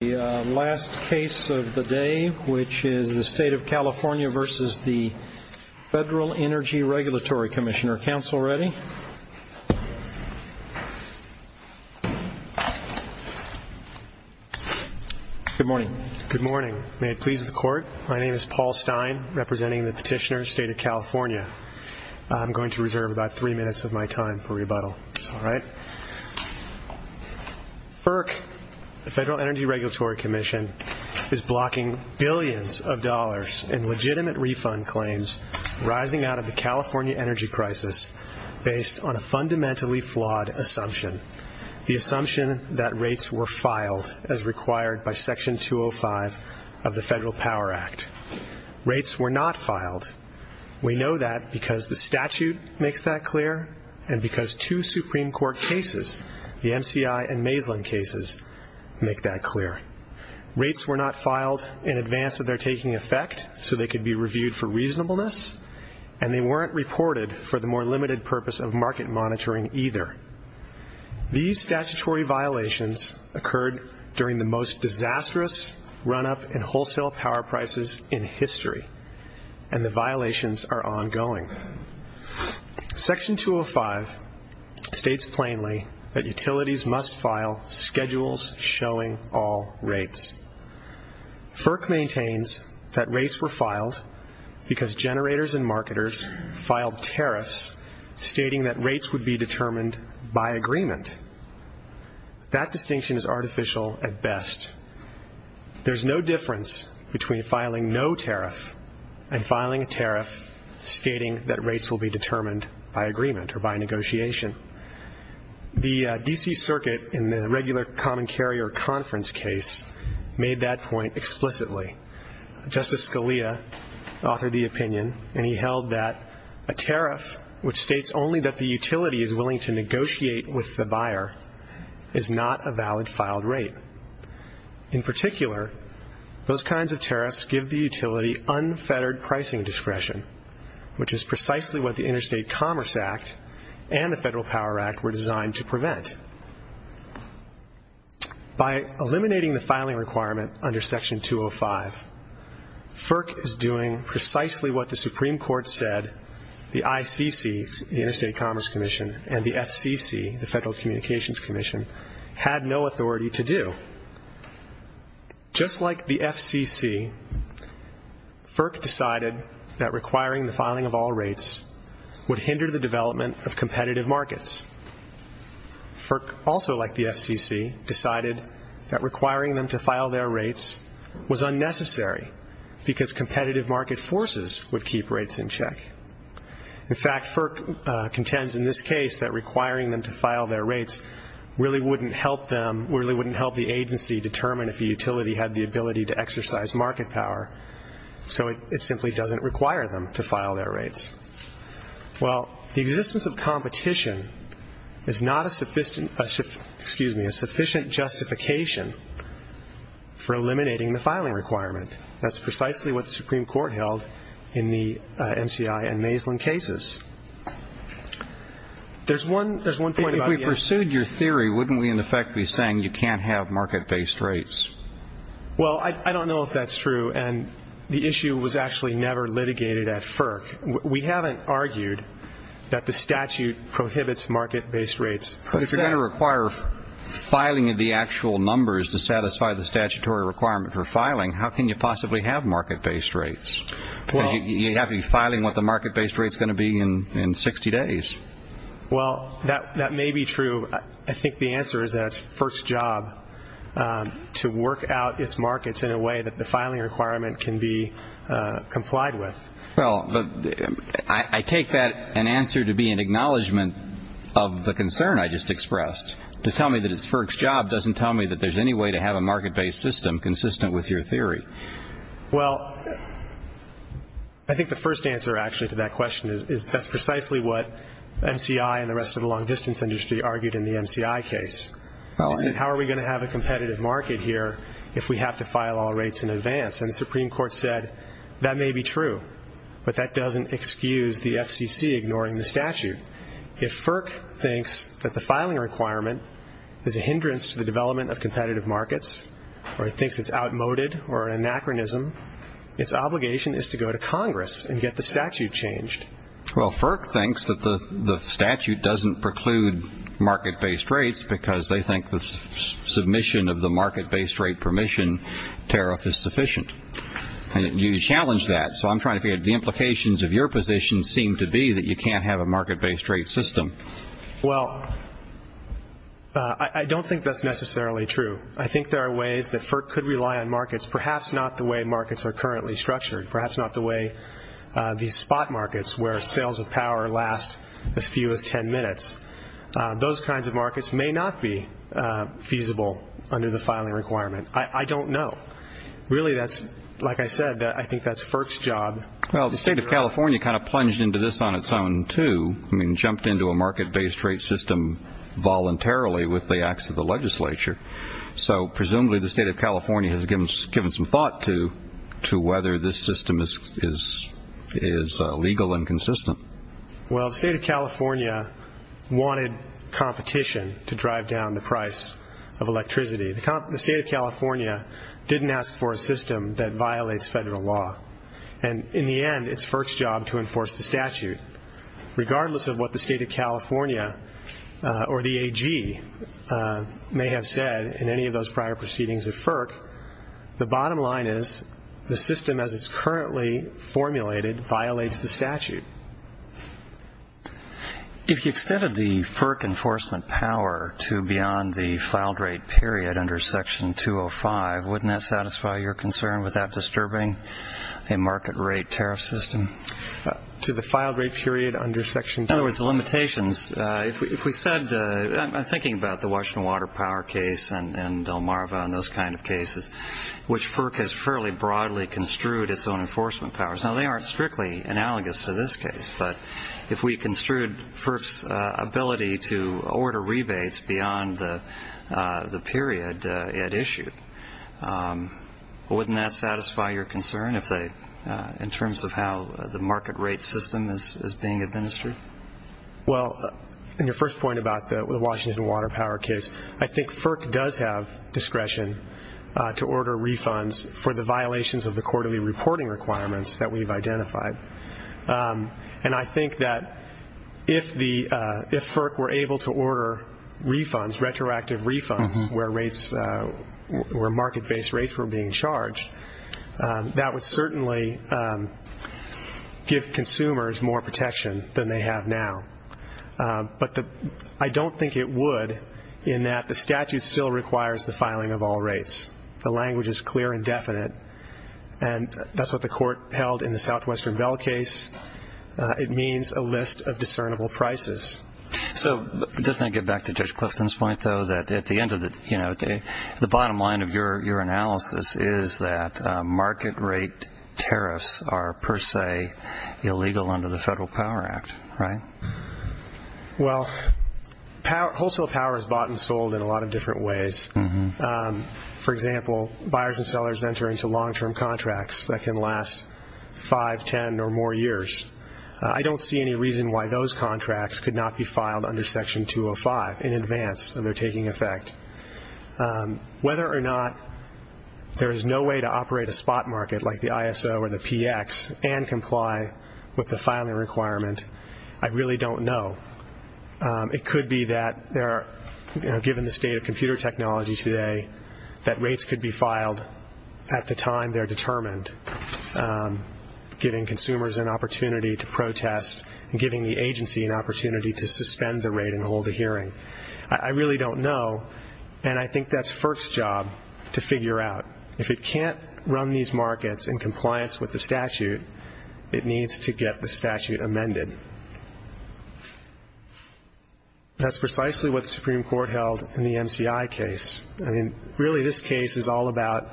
The last case of the day, which is the State of California v. the Federal Energy Regulatory Commissioner. Counsel ready? Good morning. Good morning. May it please the Court, my name is Paul Stein, representing the Petitioner, State of California. I'm going to reserve about three minutes of my time for rebuttal, if that's all right. FERC, the Federal Energy Regulatory Commission, is blocking billions of dollars in legitimate refund claims rising out of the California energy crisis based on a fundamentally flawed assumption. The assumption that rates were filed as required by Section 205 of the Federal Power Act. Rates were not filed. We know that because the statute makes that clear and because two Supreme Court cases, the MCI and Maeslin cases, make that clear. Rates were not filed in advance of their taking effect so they could be reviewed for reasonableness and they weren't reported for the more limited purpose of market monitoring either. These statutory violations occurred during the most disastrous run-up in wholesale power prices in history and the violations are ongoing. Section 205 states plainly that utilities must file schedules showing all rates. FERC maintains that rates were filed because generators and marketers filed tariffs stating that rates would be determined by agreement. That distinction is artificial at best. There's no difference between filing no tariff and filing a tariff stating that rates will be determined by agreement or by negotiation. The D.C. Circuit in the regular common carrier conference case made that point explicitly. Justice Scalia authored the opinion and he held that a tariff which states only that the utility is willing to negotiate with the buyer is not a valid filed rate. In particular, those kinds of tariffs give the utility unfettered pricing discretion which is precisely what the Interstate Commerce Act and the Federal Power Act were designed to prevent. By eliminating the filing requirement under Section 205, FERC is doing precisely what the Supreme Court said the ICC, the Interstate Commerce Commission, and the FCC, the Federal Communications Commission, had no authority to do. Just like the FCC, FERC decided that requiring the filing of all rates would hinder the development of competitive markets. FERC also, like the FCC, decided that requiring them to file their rates was unnecessary because competitive market forces would keep rates in check. In fact, FERC contends in this case that requiring them to file their rates really wouldn't help the agency determine if a utility had the ability to exercise market power. So it simply doesn't require them to file their rates. Well, the existence of competition is not a sufficient justification for eliminating the filing requirement. That's precisely what the Supreme Court held in the MCI and Maislin cases. There's one point about it. If we pursued your theory, wouldn't we in effect be saying you can't have market-based rates? Well, I don't know if that's true, and the issue was actually never litigated at FERC. We haven't argued that the statute prohibits market-based rates. But if you're going to require filing of the actual numbers to satisfy the statutory requirement for filing, how can you possibly have market-based rates? You'd have to be filing what the market-based rate's going to be in 60 days. Well, that may be true. I think the answer is that it's FERC's job to work out its markets in a way that the filing requirement can be complied with. Well, I take that answer to be an acknowledgment of the concern I just expressed. To tell me that it's FERC's job doesn't tell me that there's any way to have a market-based system consistent with your theory. Well, I think the first answer actually to that question is that's precisely what MCI and the rest of the long-distance industry argued in the MCI case. They said, how are we going to have a competitive market here if we have to file all rates in advance? And the Supreme Court said that may be true, but that doesn't excuse the FCC ignoring the statute. If FERC thinks that the filing requirement is a hindrance to the development of competitive markets, or it thinks it's outmoded or an anachronism, its obligation is to go to Congress and get the statute changed. Well, FERC thinks that the statute doesn't preclude market-based rates because they think the submission of the market-based rate permission tariff is sufficient. And you challenged that, so I'm trying to figure out the implications of your position seem to be that you can't have a market-based rate system. Well, I don't think that's necessarily true. I think there are ways that FERC could rely on markets, perhaps not the way markets are currently structured, perhaps not the way these spot markets where sales of power last as few as 10 minutes. Those kinds of markets may not be feasible under the filing requirement. I don't know. Really that's, like I said, I think that's FERC's job. Well, the state of California kind of plunged into this on its own, too. I mean, jumped into a market-based rate system voluntarily with the acts of the legislature. So presumably the state of California has given some thought to whether this system is legal and consistent. Well, the state of California wanted competition to drive down the price of electricity. The state of California didn't ask for a system that violates federal law. And in the end, it's FERC's job to enforce the statute. Regardless of what the state of California or the AG may have said in any of those prior proceedings at FERC, the bottom line is the system as it's currently formulated violates the statute. If you extended the FERC enforcement power to beyond the filed rate period under Section 205, wouldn't that satisfy your concern without disturbing a market rate tariff system? To the filed rate period under Section 205? In other words, the limitations. If we said, thinking about the Washington Water Power case and Delmarva and those kind of cases, which FERC has fairly broadly construed its own enforcement powers. Now, they aren't strictly analogous to this case. But if we construed FERC's ability to order rebates beyond the period it issued, wouldn't that satisfy your concern in terms of how the market rate system is being administered? Well, in your first point about the Washington Water Power case, I think FERC does have discretion to order refunds for the violations of the quarterly reporting requirements that we've identified. And I think that if FERC were able to order refunds, retroactive refunds, where market-based rates were being charged, that would certainly give consumers more protection than they have now. But I don't think it would in that the statute still requires the filing of all rates. The language is clear and definite. And that's what the court held in the Southwestern Bell case. It means a list of discernible prices. So just to get back to Judge Clifton's point, though, that at the end of the bottom line of your analysis is that market rate tariffs are per se illegal under the Federal Power Act, right? Well, wholesale power is bought and sold in a lot of different ways. For example, buyers and sellers enter into long-term contracts that can last 5, 10, or more years. I don't see any reason why those contracts could not be filed under Section 205 in advance of their taking effect. Whether or not there is no way to operate a spot market like the ISO or the PX and comply with the filing requirement, I really don't know. It could be that given the state of computer technology today, that rates could be filed at the time they're determined, giving consumers an opportunity to protest and giving the agency an opportunity to suspend the rate and hold a hearing. I really don't know, and I think that's FERC's job to figure out. If it can't run these markets in compliance with the statute, it needs to get the statute amended. That's precisely what the Supreme Court held in the MCI case. Really this case is all about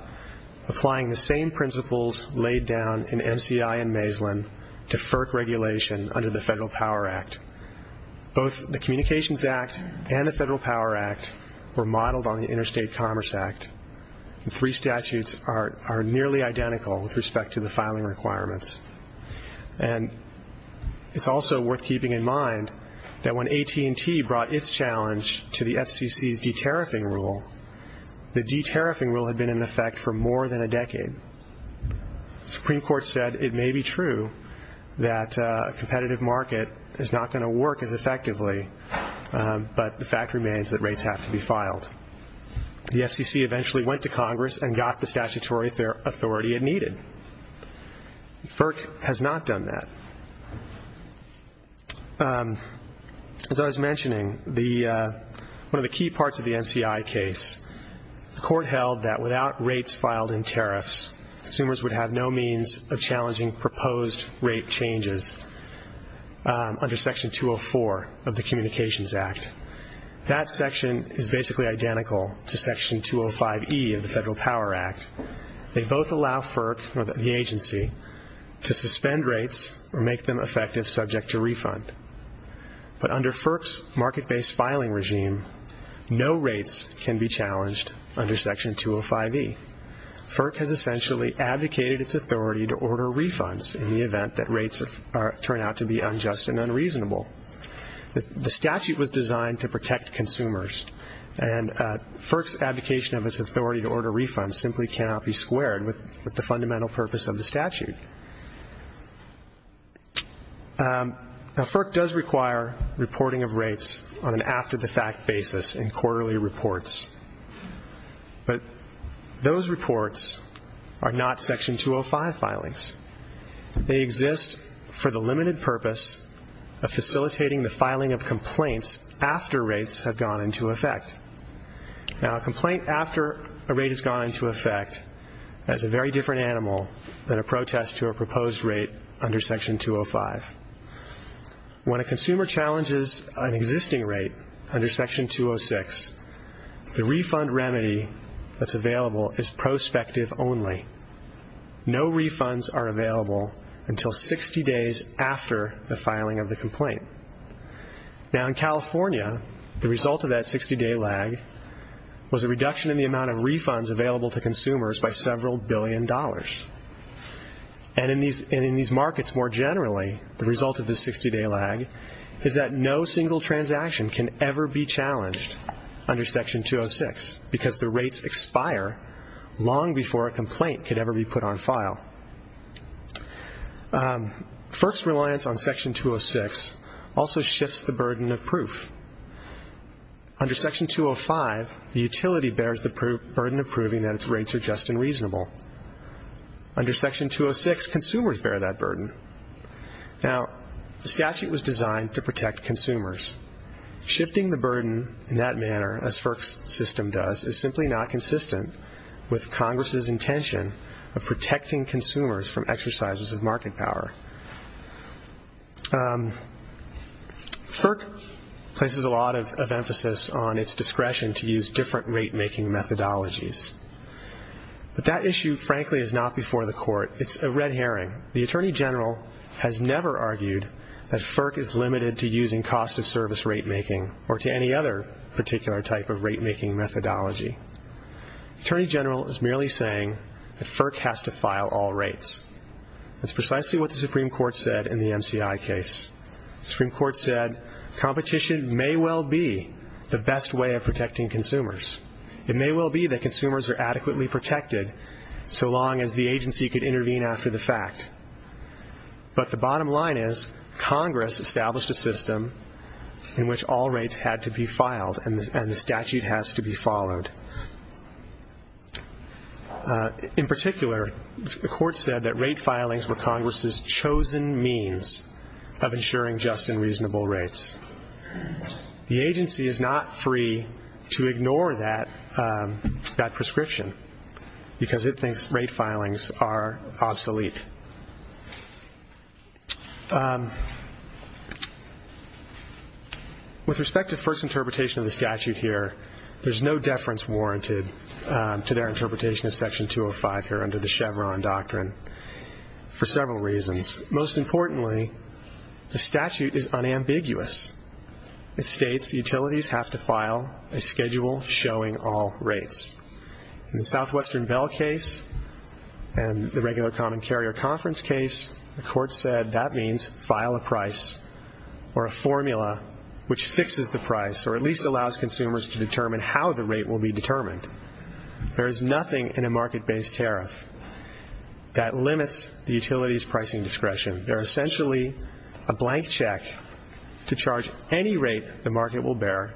applying the same principles laid down in MCI and Maislin to FERC regulation under the Federal Power Act. Both the Communications Act and the Federal Power Act were modeled on the Interstate Commerce Act. Three statutes are nearly identical with respect to the filing requirements. And it's also worth keeping in mind that when AT&T brought its challenge to the FCC's de-tariffing rule, the de-tariffing rule had been in effect for more than a decade. The Supreme Court said it may be true that a competitive market is not going to work as effectively, but the fact remains that rates have to be filed. The FCC eventually went to Congress and got the statutory authority it needed. FERC has not done that. As I was mentioning, one of the key parts of the MCI case, the Court held that without rates filed in tariffs, consumers would have no means of challenging proposed rate changes under Section 204 of the Communications Act. That section is basically identical to Section 205E of the Federal Power Act. They both allow FERC, the agency, to suspend rates or make them effective subject to refund. But under FERC's market-based filing regime, no rates can be challenged under Section 205E. FERC has essentially abdicated its authority to order refunds in the event that rates turn out to be unjust and unreasonable. The statute was designed to protect consumers, and FERC's abdication of its authority to order refunds simply cannot be squared with the fundamental purpose of the statute. Now, FERC does require reporting of rates on an after-the-fact basis in quarterly reports. But those reports are not Section 205 filings. They exist for the limited purpose of facilitating the filing of complaints after rates have gone into effect. Now, a complaint after a rate has gone into effect is a very different animal than a protest to a proposed rate under Section 205. When a consumer challenges an existing rate under Section 206, the refund remedy that's available is prospective only. No refunds are available until 60 days after the filing of the complaint. Now, in California, the result of that 60-day lag was a reduction in the amount of refunds available to consumers by several billion dollars. And in these markets more generally, the result of this 60-day lag is that no single transaction can ever be challenged under Section 206 because the rates expire long before a complaint could ever be put on file. FERC's reliance on Section 206 also shifts the burden of proof. Under Section 205, the utility bears the burden of proving that its rates are just and reasonable. Under Section 206, consumers bear that burden. Now, the statute was designed to protect consumers. Shifting the burden in that manner, as FERC's system does, is simply not consistent with Congress's intention of protecting consumers from exercises of market power. FERC places a lot of emphasis on its discretion to use different rate-making methodologies. But that issue, frankly, is not before the Court. It's a red herring. The Attorney General has never argued that FERC is limited to using cost-of-service rate-making or to any other particular type of rate-making methodology. The Attorney General is merely saying that FERC has to file all rates. That's precisely what the Supreme Court said in the MCI case. The Supreme Court said competition may well be the best way of protecting consumers. It may well be that consumers are adequately protected so long as the agency could intervene after the fact. But the bottom line is Congress established a system in which all rates had to be filed and the statute has to be followed. In particular, the Court said that rate filings were Congress's chosen means of ensuring just and reasonable rates. The agency is not free to ignore that prescription because it thinks rate filings are obsolete. With respect to FERC's interpretation of the statute here, there's no deference warranted to their interpretation of Section 205 here under the Chevron Doctrine for several reasons. Most importantly, the statute is unambiguous. It states utilities have to file a schedule showing all rates. In the Southwestern Bell case and the regular Common Carrier Conference case, the Court said that means file a price or a formula which fixes the price or at least allows consumers to determine how the rate will be determined. There is nothing in a market-based tariff that limits the utility's pricing discretion. They're essentially a blank check to charge any rate the market will bear,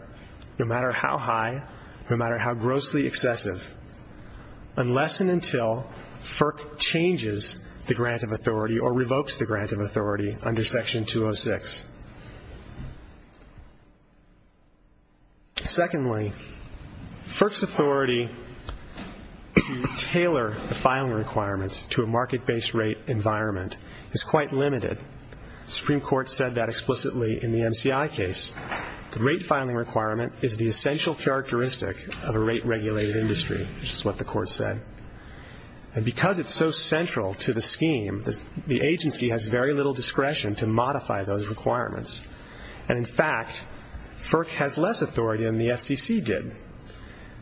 no matter how high or no matter how grossly excessive, unless and until FERC changes the grant of authority or revokes the grant of authority under Section 206. Secondly, FERC's authority to tailor the filing requirements to a market-based rate environment is quite limited. The Supreme Court said that explicitly in the MCI case. The rate filing requirement is the essential characteristic of a rate-regulated industry, which is what the Court said. And because it's so central to the scheme, the agency has very little discretion to modify those requirements. And in fact, FERC has less authority than the FCC did.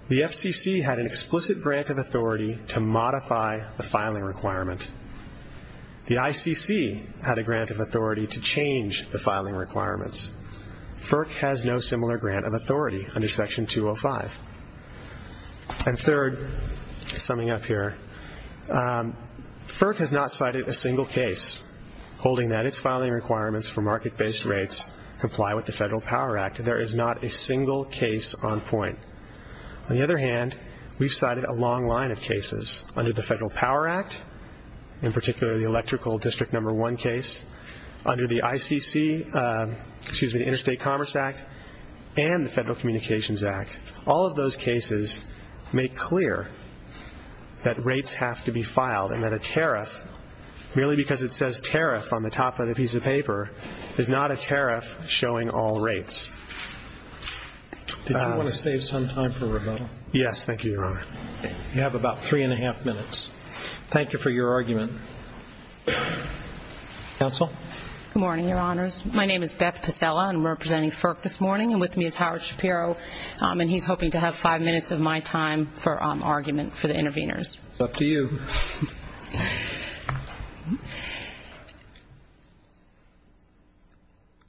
The FCC had an explicit grant of authority to modify the filing requirement. The ICC had a grant of authority to change the filing requirements. FERC has no similar grant of authority under Section 205. And third, summing up here, FERC has not cited a single case holding that its filing requirements for market-based rates comply with the Federal Power Act. There is not a single case on point. On the other hand, we've cited a long line of cases under the Federal Power Act, in particular the Electrical District No. 1 case, under the Interstate Commerce Act, and the Federal Communications Act. All of those cases make clear that rates have to be filed and that a tariff, merely because it says tariff on the top of the piece of paper, is not a tariff showing all rates. Did you want to save some time for rebuttal? Yes, thank you, Your Honor. You have about three and a half minutes. Thank you for your argument. Counsel? Good morning, Your Honors. My name is Beth Pasella, and I'm representing FERC this morning. And with me is Howard Shapiro, and he's hoping to have five minutes of my time for argument for the interveners. It's up to you.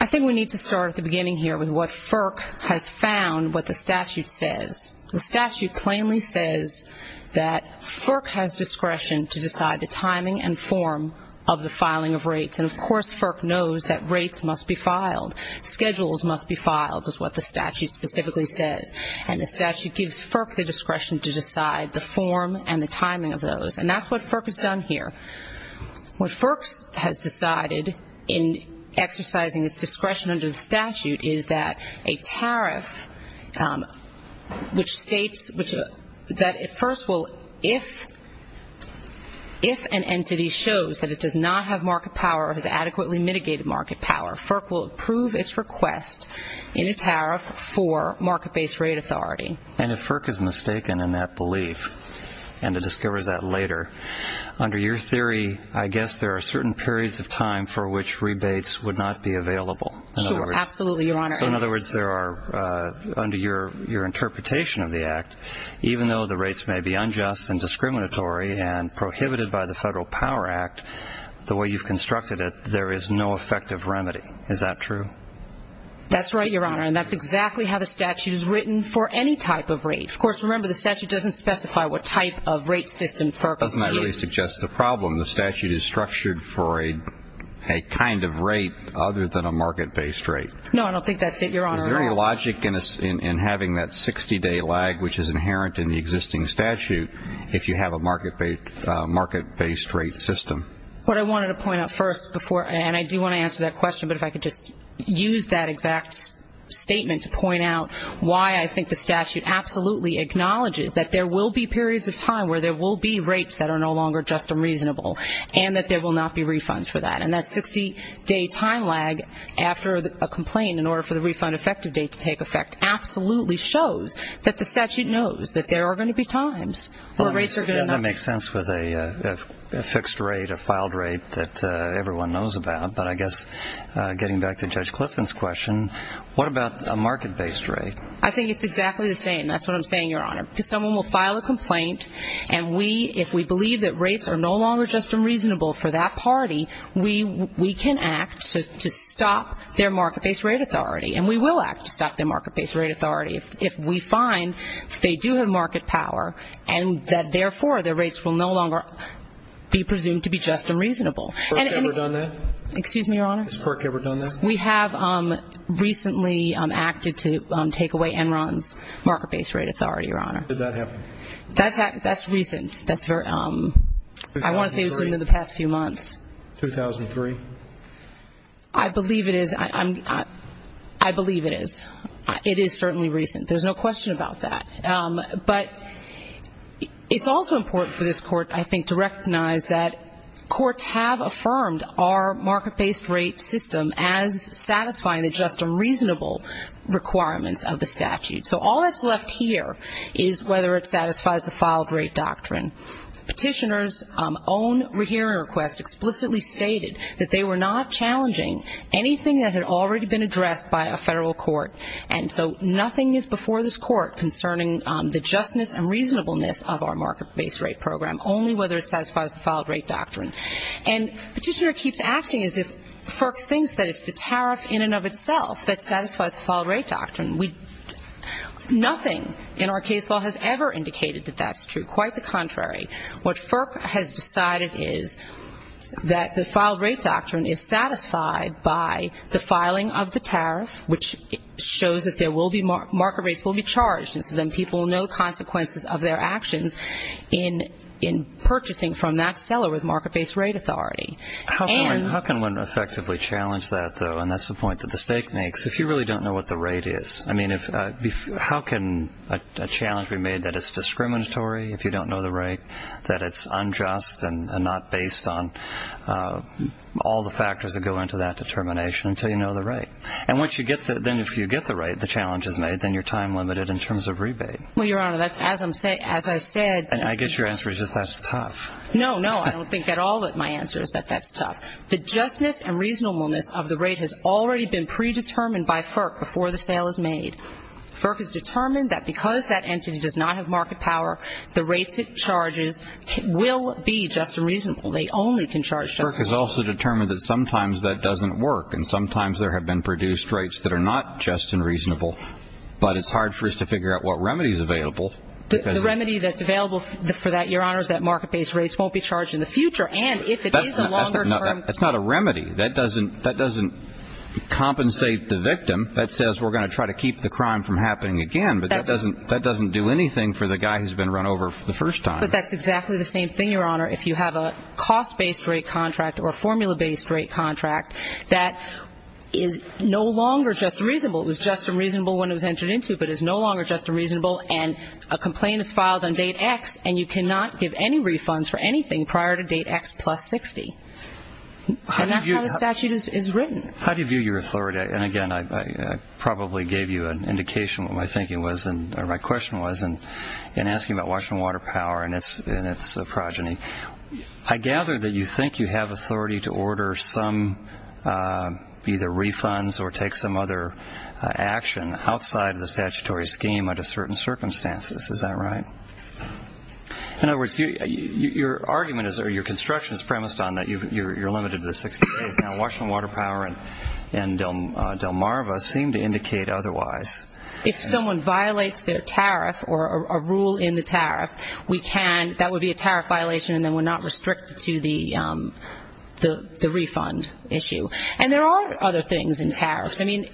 I think we need to start at the beginning here with what FERC has found, what the statute says. The statute plainly says that FERC has discretion to decide the timing and form of the filing of rates. And, of course, FERC knows that rates must be filed. Schedules must be filed, is what the statute specifically says. And the statute gives FERC the discretion to decide the form and the timing of those. And that's what FERC has done here. What FERC has decided in exercising its discretion under the statute is that a tariff, which states that it first will, if an entity shows that it does not have market power or has adequately mitigated market power, FERC will approve its request in a tariff for market-based rate authority. And if FERC is mistaken in that belief and it discovers that later, under your theory, I guess there are certain periods of time for which rebates would not be available. Sure, absolutely, Your Honor. So, in other words, there are, under your interpretation of the Act, even though the rates may be unjust and discriminatory and prohibited by the Federal Power Act the way you've constructed it, there is no effective remedy. Is that true? That's right, Your Honor. And that's exactly how the statute is written for any type of rate. Of course, remember, the statute doesn't specify what type of rate system FERC is using. That doesn't really suggest a problem. The statute is structured for a kind of rate other than a market-based rate. No, I don't think that's it, Your Honor. Is there any logic in having that 60-day lag, which is inherent in the existing statute, if you have a market-based rate system? What I wanted to point out first before, and I do want to answer that question, but if I could just use that exact statement to point out why I think the statute absolutely acknowledges that there will be periods of time where there will be rates that are no longer just and reasonable and that there will not be refunds for that. And that 60-day time lag after a complaint in order for the refund effective date to take effect absolutely shows that the statute knows that there are going to be times where rates are going to not. That makes sense with a fixed rate, a filed rate that everyone knows about. But I guess getting back to Judge Clifton's question, what about a market-based rate? I think it's exactly the same. That's what I'm saying, Your Honor, because someone will file a complaint, and if we believe that rates are no longer just and reasonable for that party, we can act to stop their market-based rate authority, and we will act to stop their market-based rate authority if we find that they do have market power and that, therefore, their rates will no longer be presumed to be just and reasonable. Has FERC ever done that? Excuse me, Your Honor? Has FERC ever done that? We have recently acted to take away Enron's market-based rate authority, Your Honor. Did that happen? That's recent. I want to say it was in the past few months. 2003? I believe it is. I believe it is. It is certainly recent. There's no question about that. But it's also important for this Court, I think, to recognize that courts have affirmed our market-based rate system as satisfying the just and reasonable requirements of the statute. So all that's left here is whether it satisfies the filed rate doctrine. Petitioners' own hearing request explicitly stated that they were not challenging anything that had already been addressed by a federal court, and so nothing is before this Court concerning the justness and reasonableness of our market-based rate program, only whether it satisfies the filed rate doctrine. And Petitioner keeps acting as if FERC thinks that it's the tariff in and of itself that satisfies the filed rate doctrine. Nothing in our case law has ever indicated that that's true. Quite the contrary. What FERC has decided is that the filed rate doctrine is satisfied by the filing of the tariff, which shows that market rates will be charged, and so then people will know the consequences of their actions in purchasing from that seller with market-based rate authority. How can one effectively challenge that, though? And that's the point that the stake makes. If you really don't know what the rate is, how can a challenge be made that it's discriminatory if you don't know the rate, that it's unjust and not based on all the factors that go into that determination until you know the rate? And then if you get the rate, the challenge is made, then you're time-limited in terms of rebate. Well, Your Honor, as I said ---- And I guess your answer is just that's tough. No, no. I don't think at all that my answer is that that's tough. The justness and reasonableness of the rate has already been predetermined by FERC before the sale is made. FERC has determined that because that entity does not have market power, the rates it charges will be just and reasonable. They only can charge just and reasonable. FERC has also determined that sometimes that doesn't work, and sometimes there have been produced rates that are not just and reasonable, but it's hard for us to figure out what remedy is available. The remedy that's available for that, Your Honor, is that market-based rates won't be charged in the future. And if it is a longer-term ---- That's not a remedy. That doesn't compensate the victim. That says we're going to try to keep the crime from happening again, but that doesn't do anything for the guy who's been run over for the first time. But that's exactly the same thing, Your Honor. If you have a cost-based rate contract or a formula-based rate contract that is no longer just and reasonable, it was just and reasonable when it was entered into, but is no longer just and reasonable, and a complaint is filed on date X and you cannot give any refunds for anything prior to date X plus 60. And that's how the statute is written. How do you view your authority? And, again, I probably gave you an indication of what my thinking was or my question was in asking about Washington Water Power and its progeny. I gather that you think you have authority to order some either refunds or take some other action outside of the statutory scheme under certain circumstances. Is that right? In other words, your argument or your construction is premised on that you're limited to the 60 days. Now, Washington Water Power and Delmarva seem to indicate otherwise. If someone violates their tariff or a rule in the tariff, we can ‑‑ that would be a tariff violation and then we're not restricted to the refund issue. And there are other things in tariffs. I mean,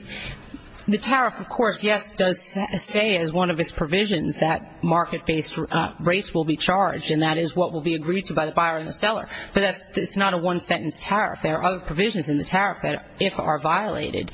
the tariff, of course, yes, does stay as one of its provisions that market-based rates will be charged, and that is what will be agreed to by the buyer and the seller. But it's not a one-sentence tariff. There are other provisions in the tariff that, if are violated,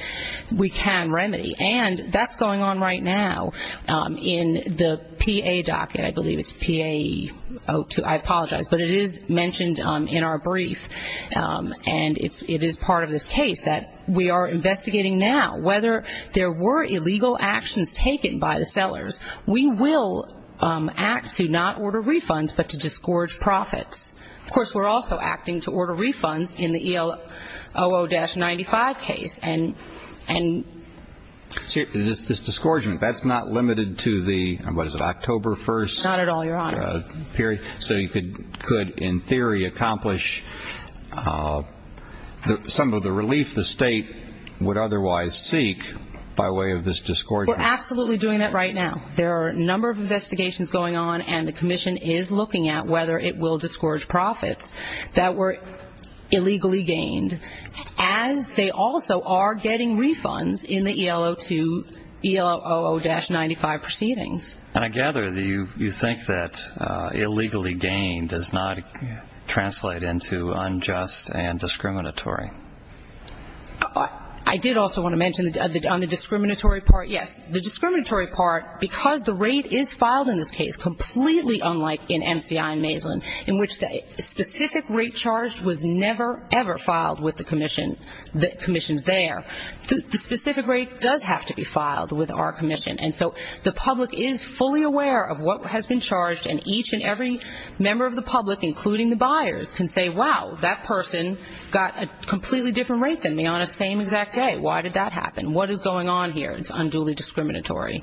we can remedy. And that's going on right now in the PA docket. I believe it's PA‑‑ I apologize. But it is mentioned in our brief, and it is part of this case, that we are investigating now whether there were illegal actions taken by the sellers. We will act to not order refunds but to disgorge profits. Of course, we're also acting to order refunds in the EOO-95 case. This disgorgement, that's not limited to the, what is it, October 1st? Not at all, Your Honor. So you could, in theory, accomplish some of the relief the state would otherwise seek by way of this disgorgement. We're absolutely doing that right now. There are a number of investigations going on, and the commission is looking at whether it will disgorge profits that were illegally gained. As they also are getting refunds in the EOO-95 proceedings. And I gather that you think that illegally gained does not translate into unjust and discriminatory. I did also want to mention on the discriminatory part, yes. The discriminatory part, because the rate is filed in this case completely unlike in MCI and Maislin, in which the specific rate charged was never, ever filed with the commissions there. The specific rate does have to be filed with our commission. And so the public is fully aware of what has been charged, and each and every member of the public, including the buyers, can say, wow, that person got a completely different rate than me on the same exact day. Why did that happen? What is going on here? It's unduly discriminatory.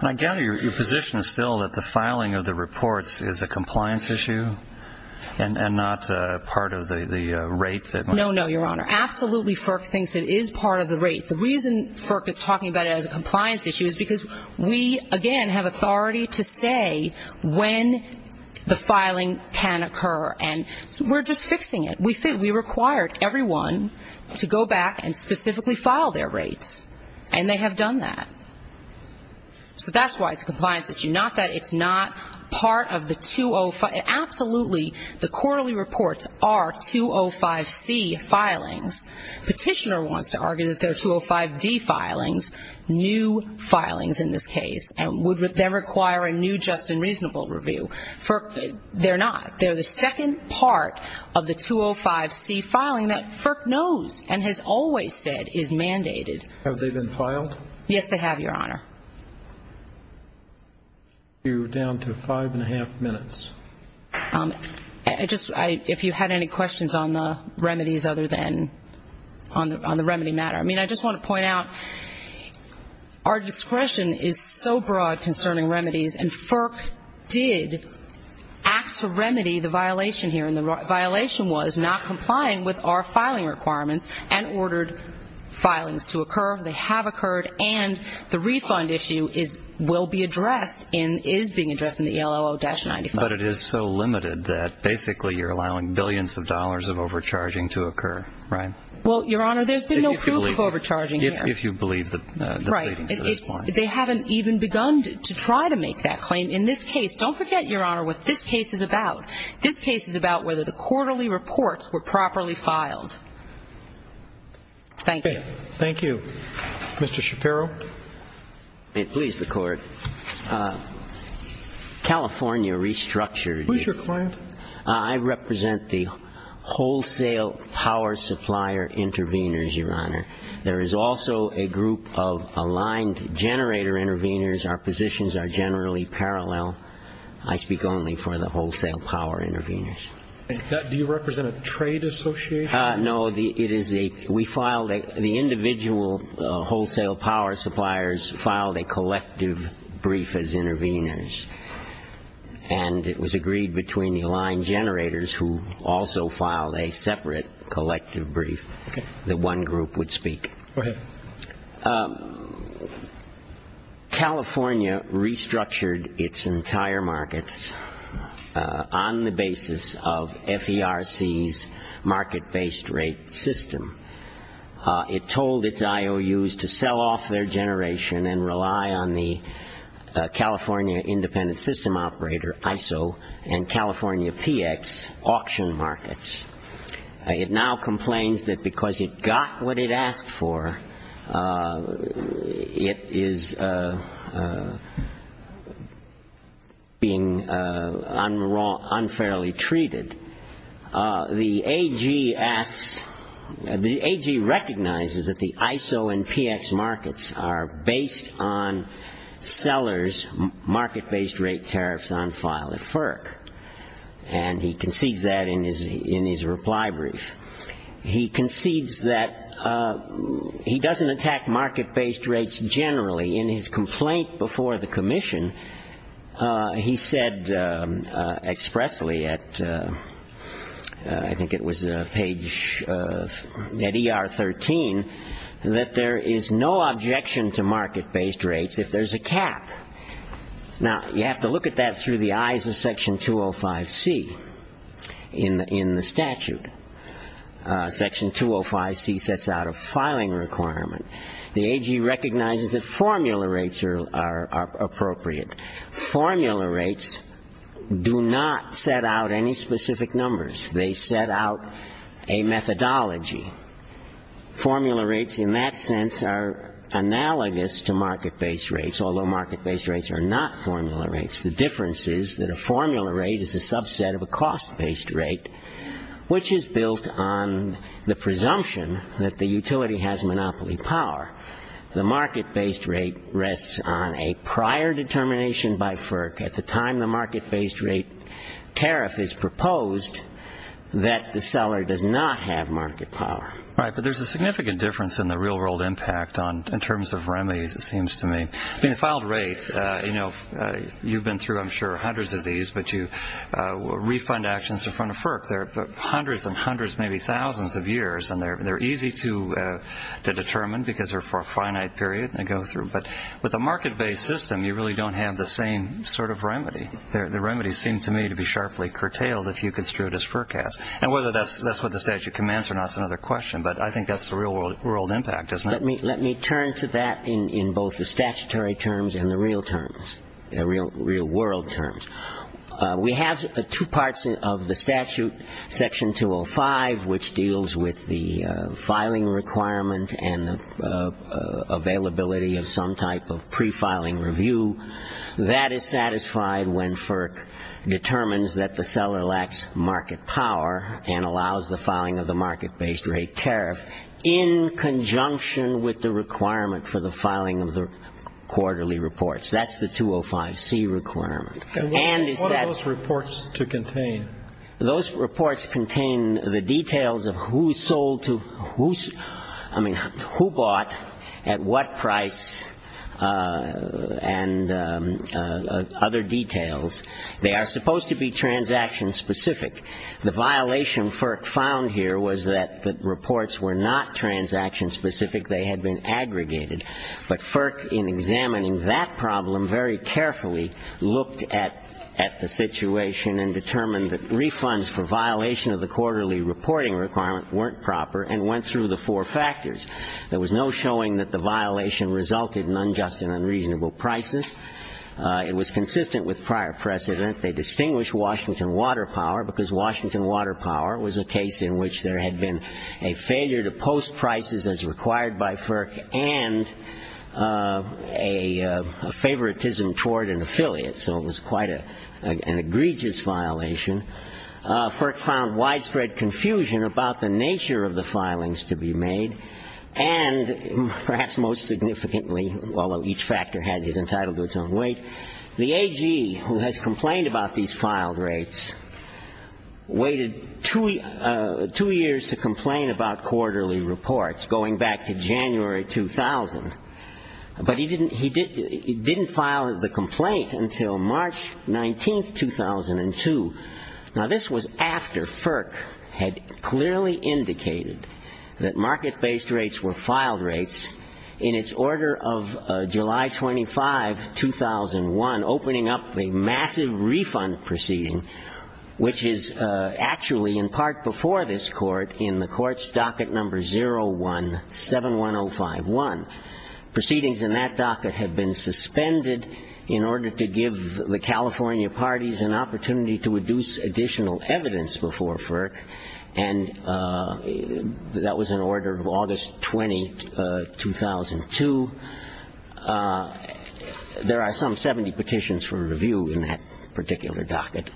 And I gather your position is still that the filing of the reports is a compliance issue and not part of the rate. No, no, Your Honor. Absolutely FERC thinks it is part of the rate. The reason FERC is talking about it as a compliance issue is because we, again, have authority to say when the filing can occur, and we're just fixing it. We required everyone to go back and specifically file their rates, and they have done that. So that's why it's a compliance issue, not that it's not part of the 205. Absolutely the quarterly reports are 205C filings. Petitioner wants to argue that they're 205D filings, new filings in this case, and would then require a new just and reasonable review. FERC, they're not. They're the second part of the 205C filing that FERC knows and has always said is mandated. Have they been filed? Yes, they have, Your Honor. We're down to five and a half minutes. If you had any questions on the remedies other than on the remedy matter. I mean, I just want to point out our discretion is so broad concerning remedies, and FERC did act to remedy the violation here, and the violation was not complying with our filing requirements and ordered filings to occur. They have occurred, and the refund issue will be addressed and is being addressed in the ELOO-95. But it is so limited that basically you're allowing billions of dollars of overcharging to occur, right? Well, Your Honor, there's been no proof of overcharging here. If you believe the pleadings at this point. They haven't even begun to try to make that claim. In this case, don't forget, Your Honor, what this case is about. This case is about whether the quarterly reports were properly filed. Thank you. Thank you. Mr. Shapiro. Please, the Court. California Restructured. Who's your client? I represent the wholesale power supplier intervenors, Your Honor. There is also a group of aligned generator intervenors. Our positions are generally parallel. I speak only for the wholesale power intervenors. Do you represent a trade association? No, it is the individual wholesale power suppliers filed a collective brief as intervenors. And it was agreed between the aligned generators who also filed a separate collective brief that one group would speak. Go ahead. California restructured its entire markets on the basis of FERC's market-based rate system. It told its IOUs to sell off their generation and rely on the California independent system operator, ISO, and California PX auction markets. It now complains that because it got what it asked for, it is being unfairly treated. The AG asks, the AG recognizes that the ISO and PX markets are based on sellers' market-based rate tariffs on file at FERC. And he concedes that in his reply brief. He concedes that he doesn't attack market-based rates generally. In his complaint before the commission, he said expressly at, I think it was page, at ER 13, that there is no objection to market-based rates if there's a cap. Now, you have to look at that through the eyes of Section 205C in the statute. Section 205C sets out a filing requirement. The AG recognizes that formula rates are appropriate. Formula rates do not set out any specific numbers. They set out a methodology. Formula rates in that sense are analogous to market-based rates, although market-based rates are not formula rates. The difference is that a formula rate is a subset of a cost-based rate, which is built on the presumption that the utility has monopoly power. The market-based rate rests on a prior determination by FERC at the time the market-based rate tariff is proposed that the seller does not have market power. Right, but there's a significant difference in the real-world impact in terms of remedies, it seems to me. I mean, the filed rates, you know, you've been through, I'm sure, hundreds of these, but you refund actions in front of FERC. They're hundreds and hundreds, maybe thousands of years, and they're easy to determine because they're for a finite period, and they go through. But with a market-based system, you really don't have the same sort of remedy. The remedies seem to me to be sharply curtailed if you construe it as FERC has. And whether that's what the statute commands or not is another question, but I think that's the real-world impact, isn't it? Let me turn to that in both the statutory terms and the real terms, the real-world terms. We have two parts of the statute, Section 205, which deals with the filing requirement and the availability of some type of prefiling review. That is satisfied when FERC determines that the seller lacks market power and allows the filing of the market-based rate tariff in conjunction with the requirement for the filing of the quarterly reports. That's the 205C requirement. And is that What are those reports to contain? Those reports contain the details of who sold to, I mean, who bought, at what price, and other details. They are supposed to be transaction-specific. The violation FERC found here was that the reports were not transaction-specific. They had been aggregated. But FERC, in examining that problem very carefully, looked at the situation and determined that refunds for violation of the quarterly reporting requirement weren't proper and went through the four factors. There was no showing that the violation resulted in unjust and unreasonable prices. It was consistent with prior precedent. They distinguished Washington Water Power because Washington Water Power was a case in which there had been a failure to post prices as required by FERC and a favoritism toward an affiliate, so it was quite an egregious violation. FERC found widespread confusion about the nature of the filings to be made, and perhaps most significantly, although each factor has its entitlement to its own weight, the AG, who has complained about these filed rates, waited two years to complain about quarterly reports, going back to January 2000. But he didn't file the complaint until March 19, 2002. Now, this was after FERC had clearly indicated that market-based rates were filed rates in its order of July 25, 2001, opening up a massive refund proceeding, which is actually in part before this court in the court's docket number 0171051. Proceedings in that docket had been suspended in order to give the California parties an opportunity to induce additional evidence before FERC, and that was in order of August 20, 2002. There are some 70 petitions for review in that particular docket.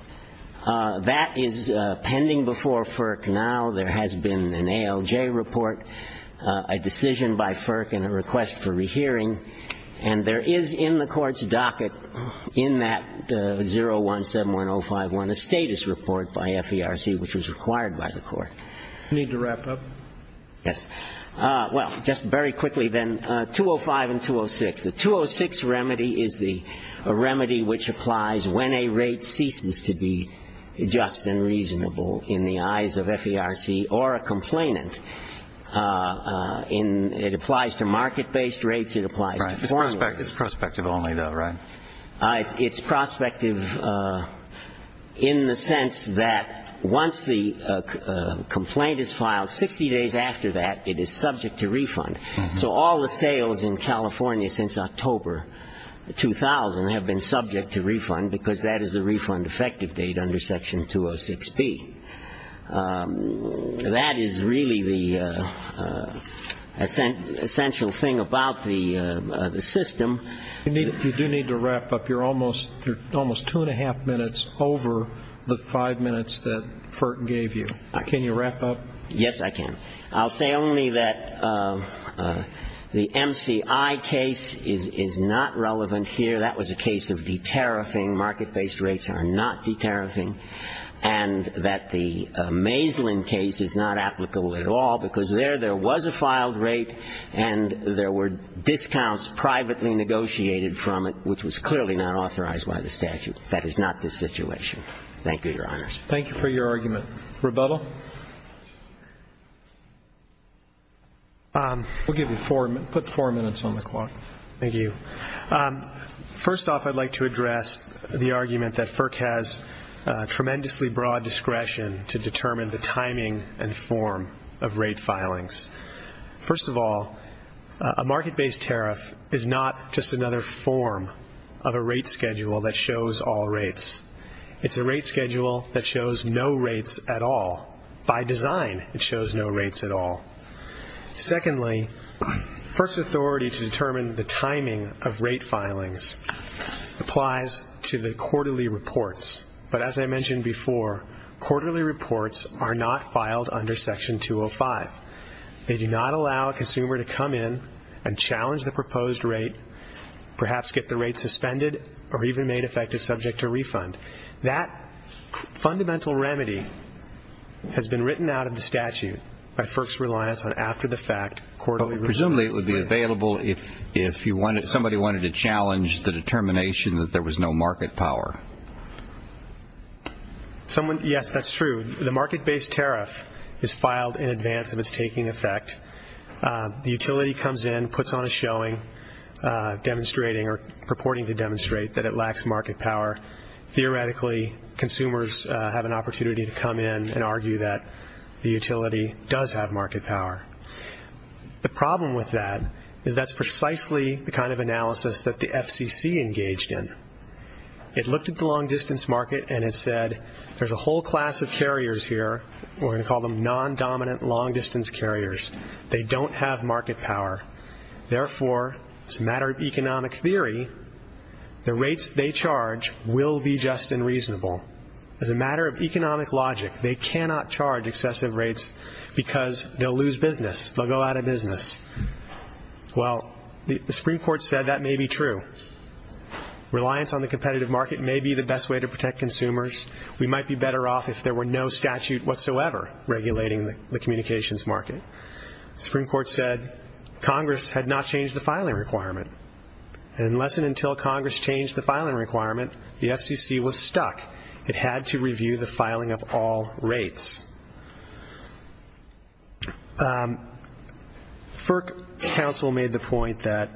That is pending before FERC now. There has been an ALJ report, a decision by FERC, and a request for rehearing, and there is in the court's docket in that 0171051 a status report by FERC which was required by the court. You need to wrap up? Yes. Well, just very quickly then, 205 and 206. The 206 remedy is a remedy which applies when a rate ceases to be just and reasonable in the eyes of FERC or a complainant. It applies to market-based rates. It applies to quarterly rates. Right. It's prospective only, though, right? It's prospective in the sense that once the complaint is filed, 60 days after that, it is subject to refund. So all the sales in California since October 2000 have been subject to refund because that is the refund effective date under Section 206B. That is really the essential thing about the system. You do need to wrap up. You're almost two and a half minutes over the five minutes that FERC gave you. Can you wrap up? Yes, I can. I'll say only that the MCI case is not relevant here. That was a case of de-tariffing. Market-based rates are not de-tariffing, and that the Maislin case is not applicable at all because there, there was a filed rate and there were discounts privately negotiated from it, which was clearly not authorized by the statute. That is not the situation. Thank you, Your Honors. Thank you for your argument. Rebuttal? We'll give you four minutes. Put four minutes on the clock. Thank you. First off, I'd like to address the argument that FERC has tremendously broad discretion to determine the timing and form of rate filings. First of all, a market-based tariff is not just another form of a rate schedule that shows all rates. It's a rate schedule that shows no rates at all. By design, it shows no rates at all. Secondly, FERC's authority to determine the timing of rate filings applies to the quarterly reports. But as I mentioned before, quarterly reports are not filed under Section 205. They do not allow a consumer to come in and challenge the proposed rate, perhaps get the rate suspended or even made effective subject to refund. That fundamental remedy has been written out of the statute by FERC's reliance on after-the-fact quarterly reports. Presumably it would be available if somebody wanted to challenge the determination that there was no market power. Yes, that's true. The market-based tariff is filed in advance of its taking effect. The utility comes in, puts on a showing, demonstrating or purporting to demonstrate that it lacks market power. Theoretically, consumers have an opportunity to come in and argue that the utility does have market power. The problem with that is that's precisely the kind of analysis that the FCC engaged in. It looked at the long-distance market and it said there's a whole class of carriers here. We're going to call them non-dominant long-distance carriers. They don't have market power. Therefore, it's a matter of economic theory. The rates they charge will be just and reasonable. As a matter of economic logic, they cannot charge excessive rates because they'll lose business. They'll go out of business. Well, the Supreme Court said that may be true. Reliance on the competitive market may be the best way to protect consumers. We might be better off if there were no statute whatsoever regulating the communications market. The Supreme Court said Congress had not changed the filing requirement. Unless and until Congress changed the filing requirement, the FCC was stuck. It had to review the filing of all rates. FERC counsel made the point that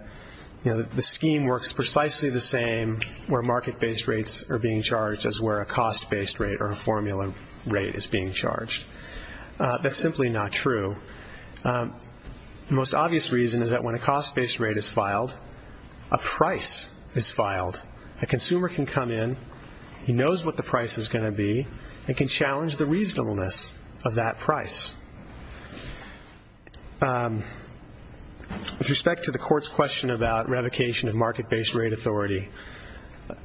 the scheme works precisely the same where market-based rates are being charged as where a cost-based rate or a formula rate is being charged. That's simply not true. The most obvious reason is that when a cost-based rate is filed, a price is filed. A consumer can come in. He knows what the price is going to be and can challenge the reasonableness of that price. With respect to the court's question about revocation of market-based rate authority,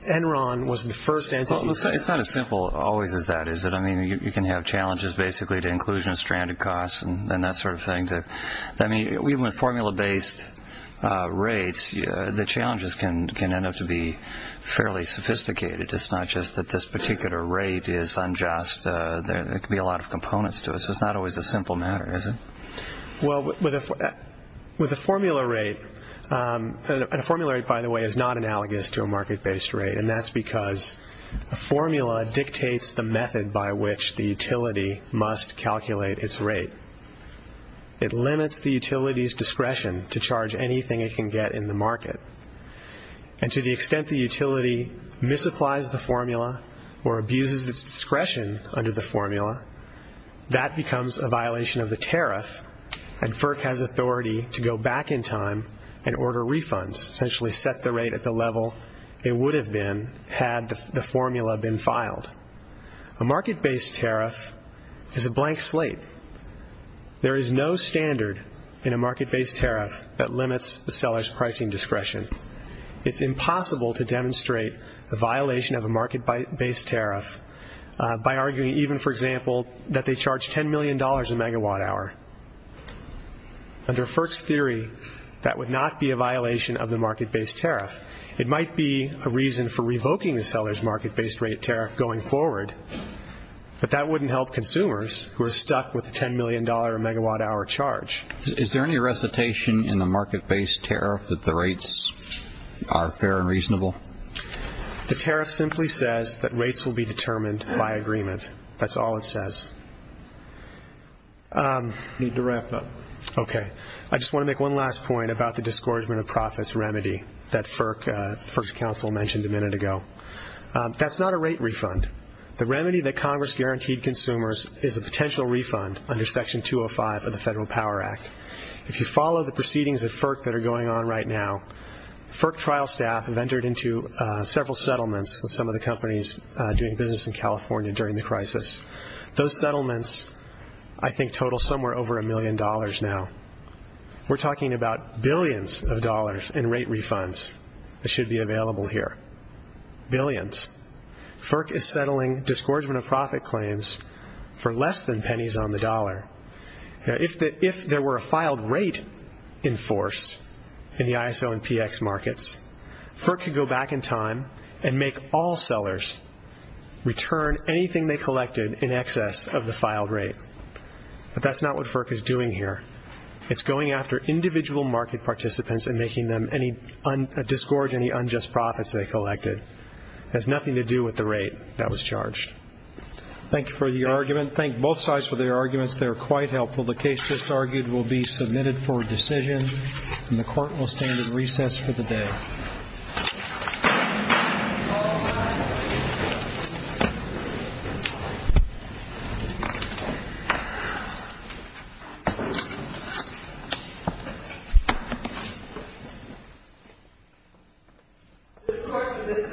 Enron was the first entity. It's not as simple always as that, is it? I mean, you can have challenges basically to inclusion of stranded costs and that sort of thing. I mean, even with formula-based rates, the challenges can end up to be fairly sophisticated. It's not just that this particular rate is unjust. There could be a lot of components to it, so it's not always a simple matter, is it? Well, with a formula rate, and a formula rate, by the way, is not analogous to a market-based rate, and that's because a formula dictates the method by which the utility must calculate its rate. It limits the utility's discretion to charge anything it can get in the market. And to the extent the utility misapplies the formula or abuses its discretion under the formula, that becomes a violation of the tariff, and FERC has authority to go back in time and order refunds, essentially set the rate at the level it would have been had the formula been filed. A market-based tariff is a blank slate. There is no standard in a market-based tariff that limits the seller's pricing discretion. It's impossible to demonstrate a violation of a market-based tariff by arguing even, for example, that they charge $10 million a megawatt hour. Under FERC's theory, that would not be a violation of the market-based tariff. It might be a reason for revoking the seller's market-based rate tariff going forward, but that wouldn't help consumers who are stuck with a $10 million a megawatt hour charge. Is there any recitation in the market-based tariff that the rates are fair and reasonable? The tariff simply says that rates will be determined by agreement. That's all it says. I need to wrap up. Okay. I just want to make one last point about the discouragement of profits remedy that FERC's council mentioned a minute ago. That's not a rate refund. The remedy that Congress guaranteed consumers is a potential refund under Section 205 of the Federal Power Act. If you follow the proceedings at FERC that are going on right now, FERC trial staff have entered into several settlements with some of the companies doing business in California during the crisis. Those settlements, I think, total somewhere over a million dollars now. We're talking about billions of dollars in rate refunds that should be available here, billions. FERC is settling discouragement of profit claims for less than pennies on the dollar. If there were a filed rate in force in the ISO and PX markets, FERC could go back in time and make all sellers return anything they collected in excess of the filed rate. But that's not what FERC is doing here. It's going after individual market participants and discouraging any unjust profits they collected. It has nothing to do with the rate that was charged. Thank you for your argument. Your comments there are quite helpful. The case that's argued will be submitted for decision, and the Court will stand at recess for the day. All rise. This Court is at recess. Stand to be adjourned. 3-2.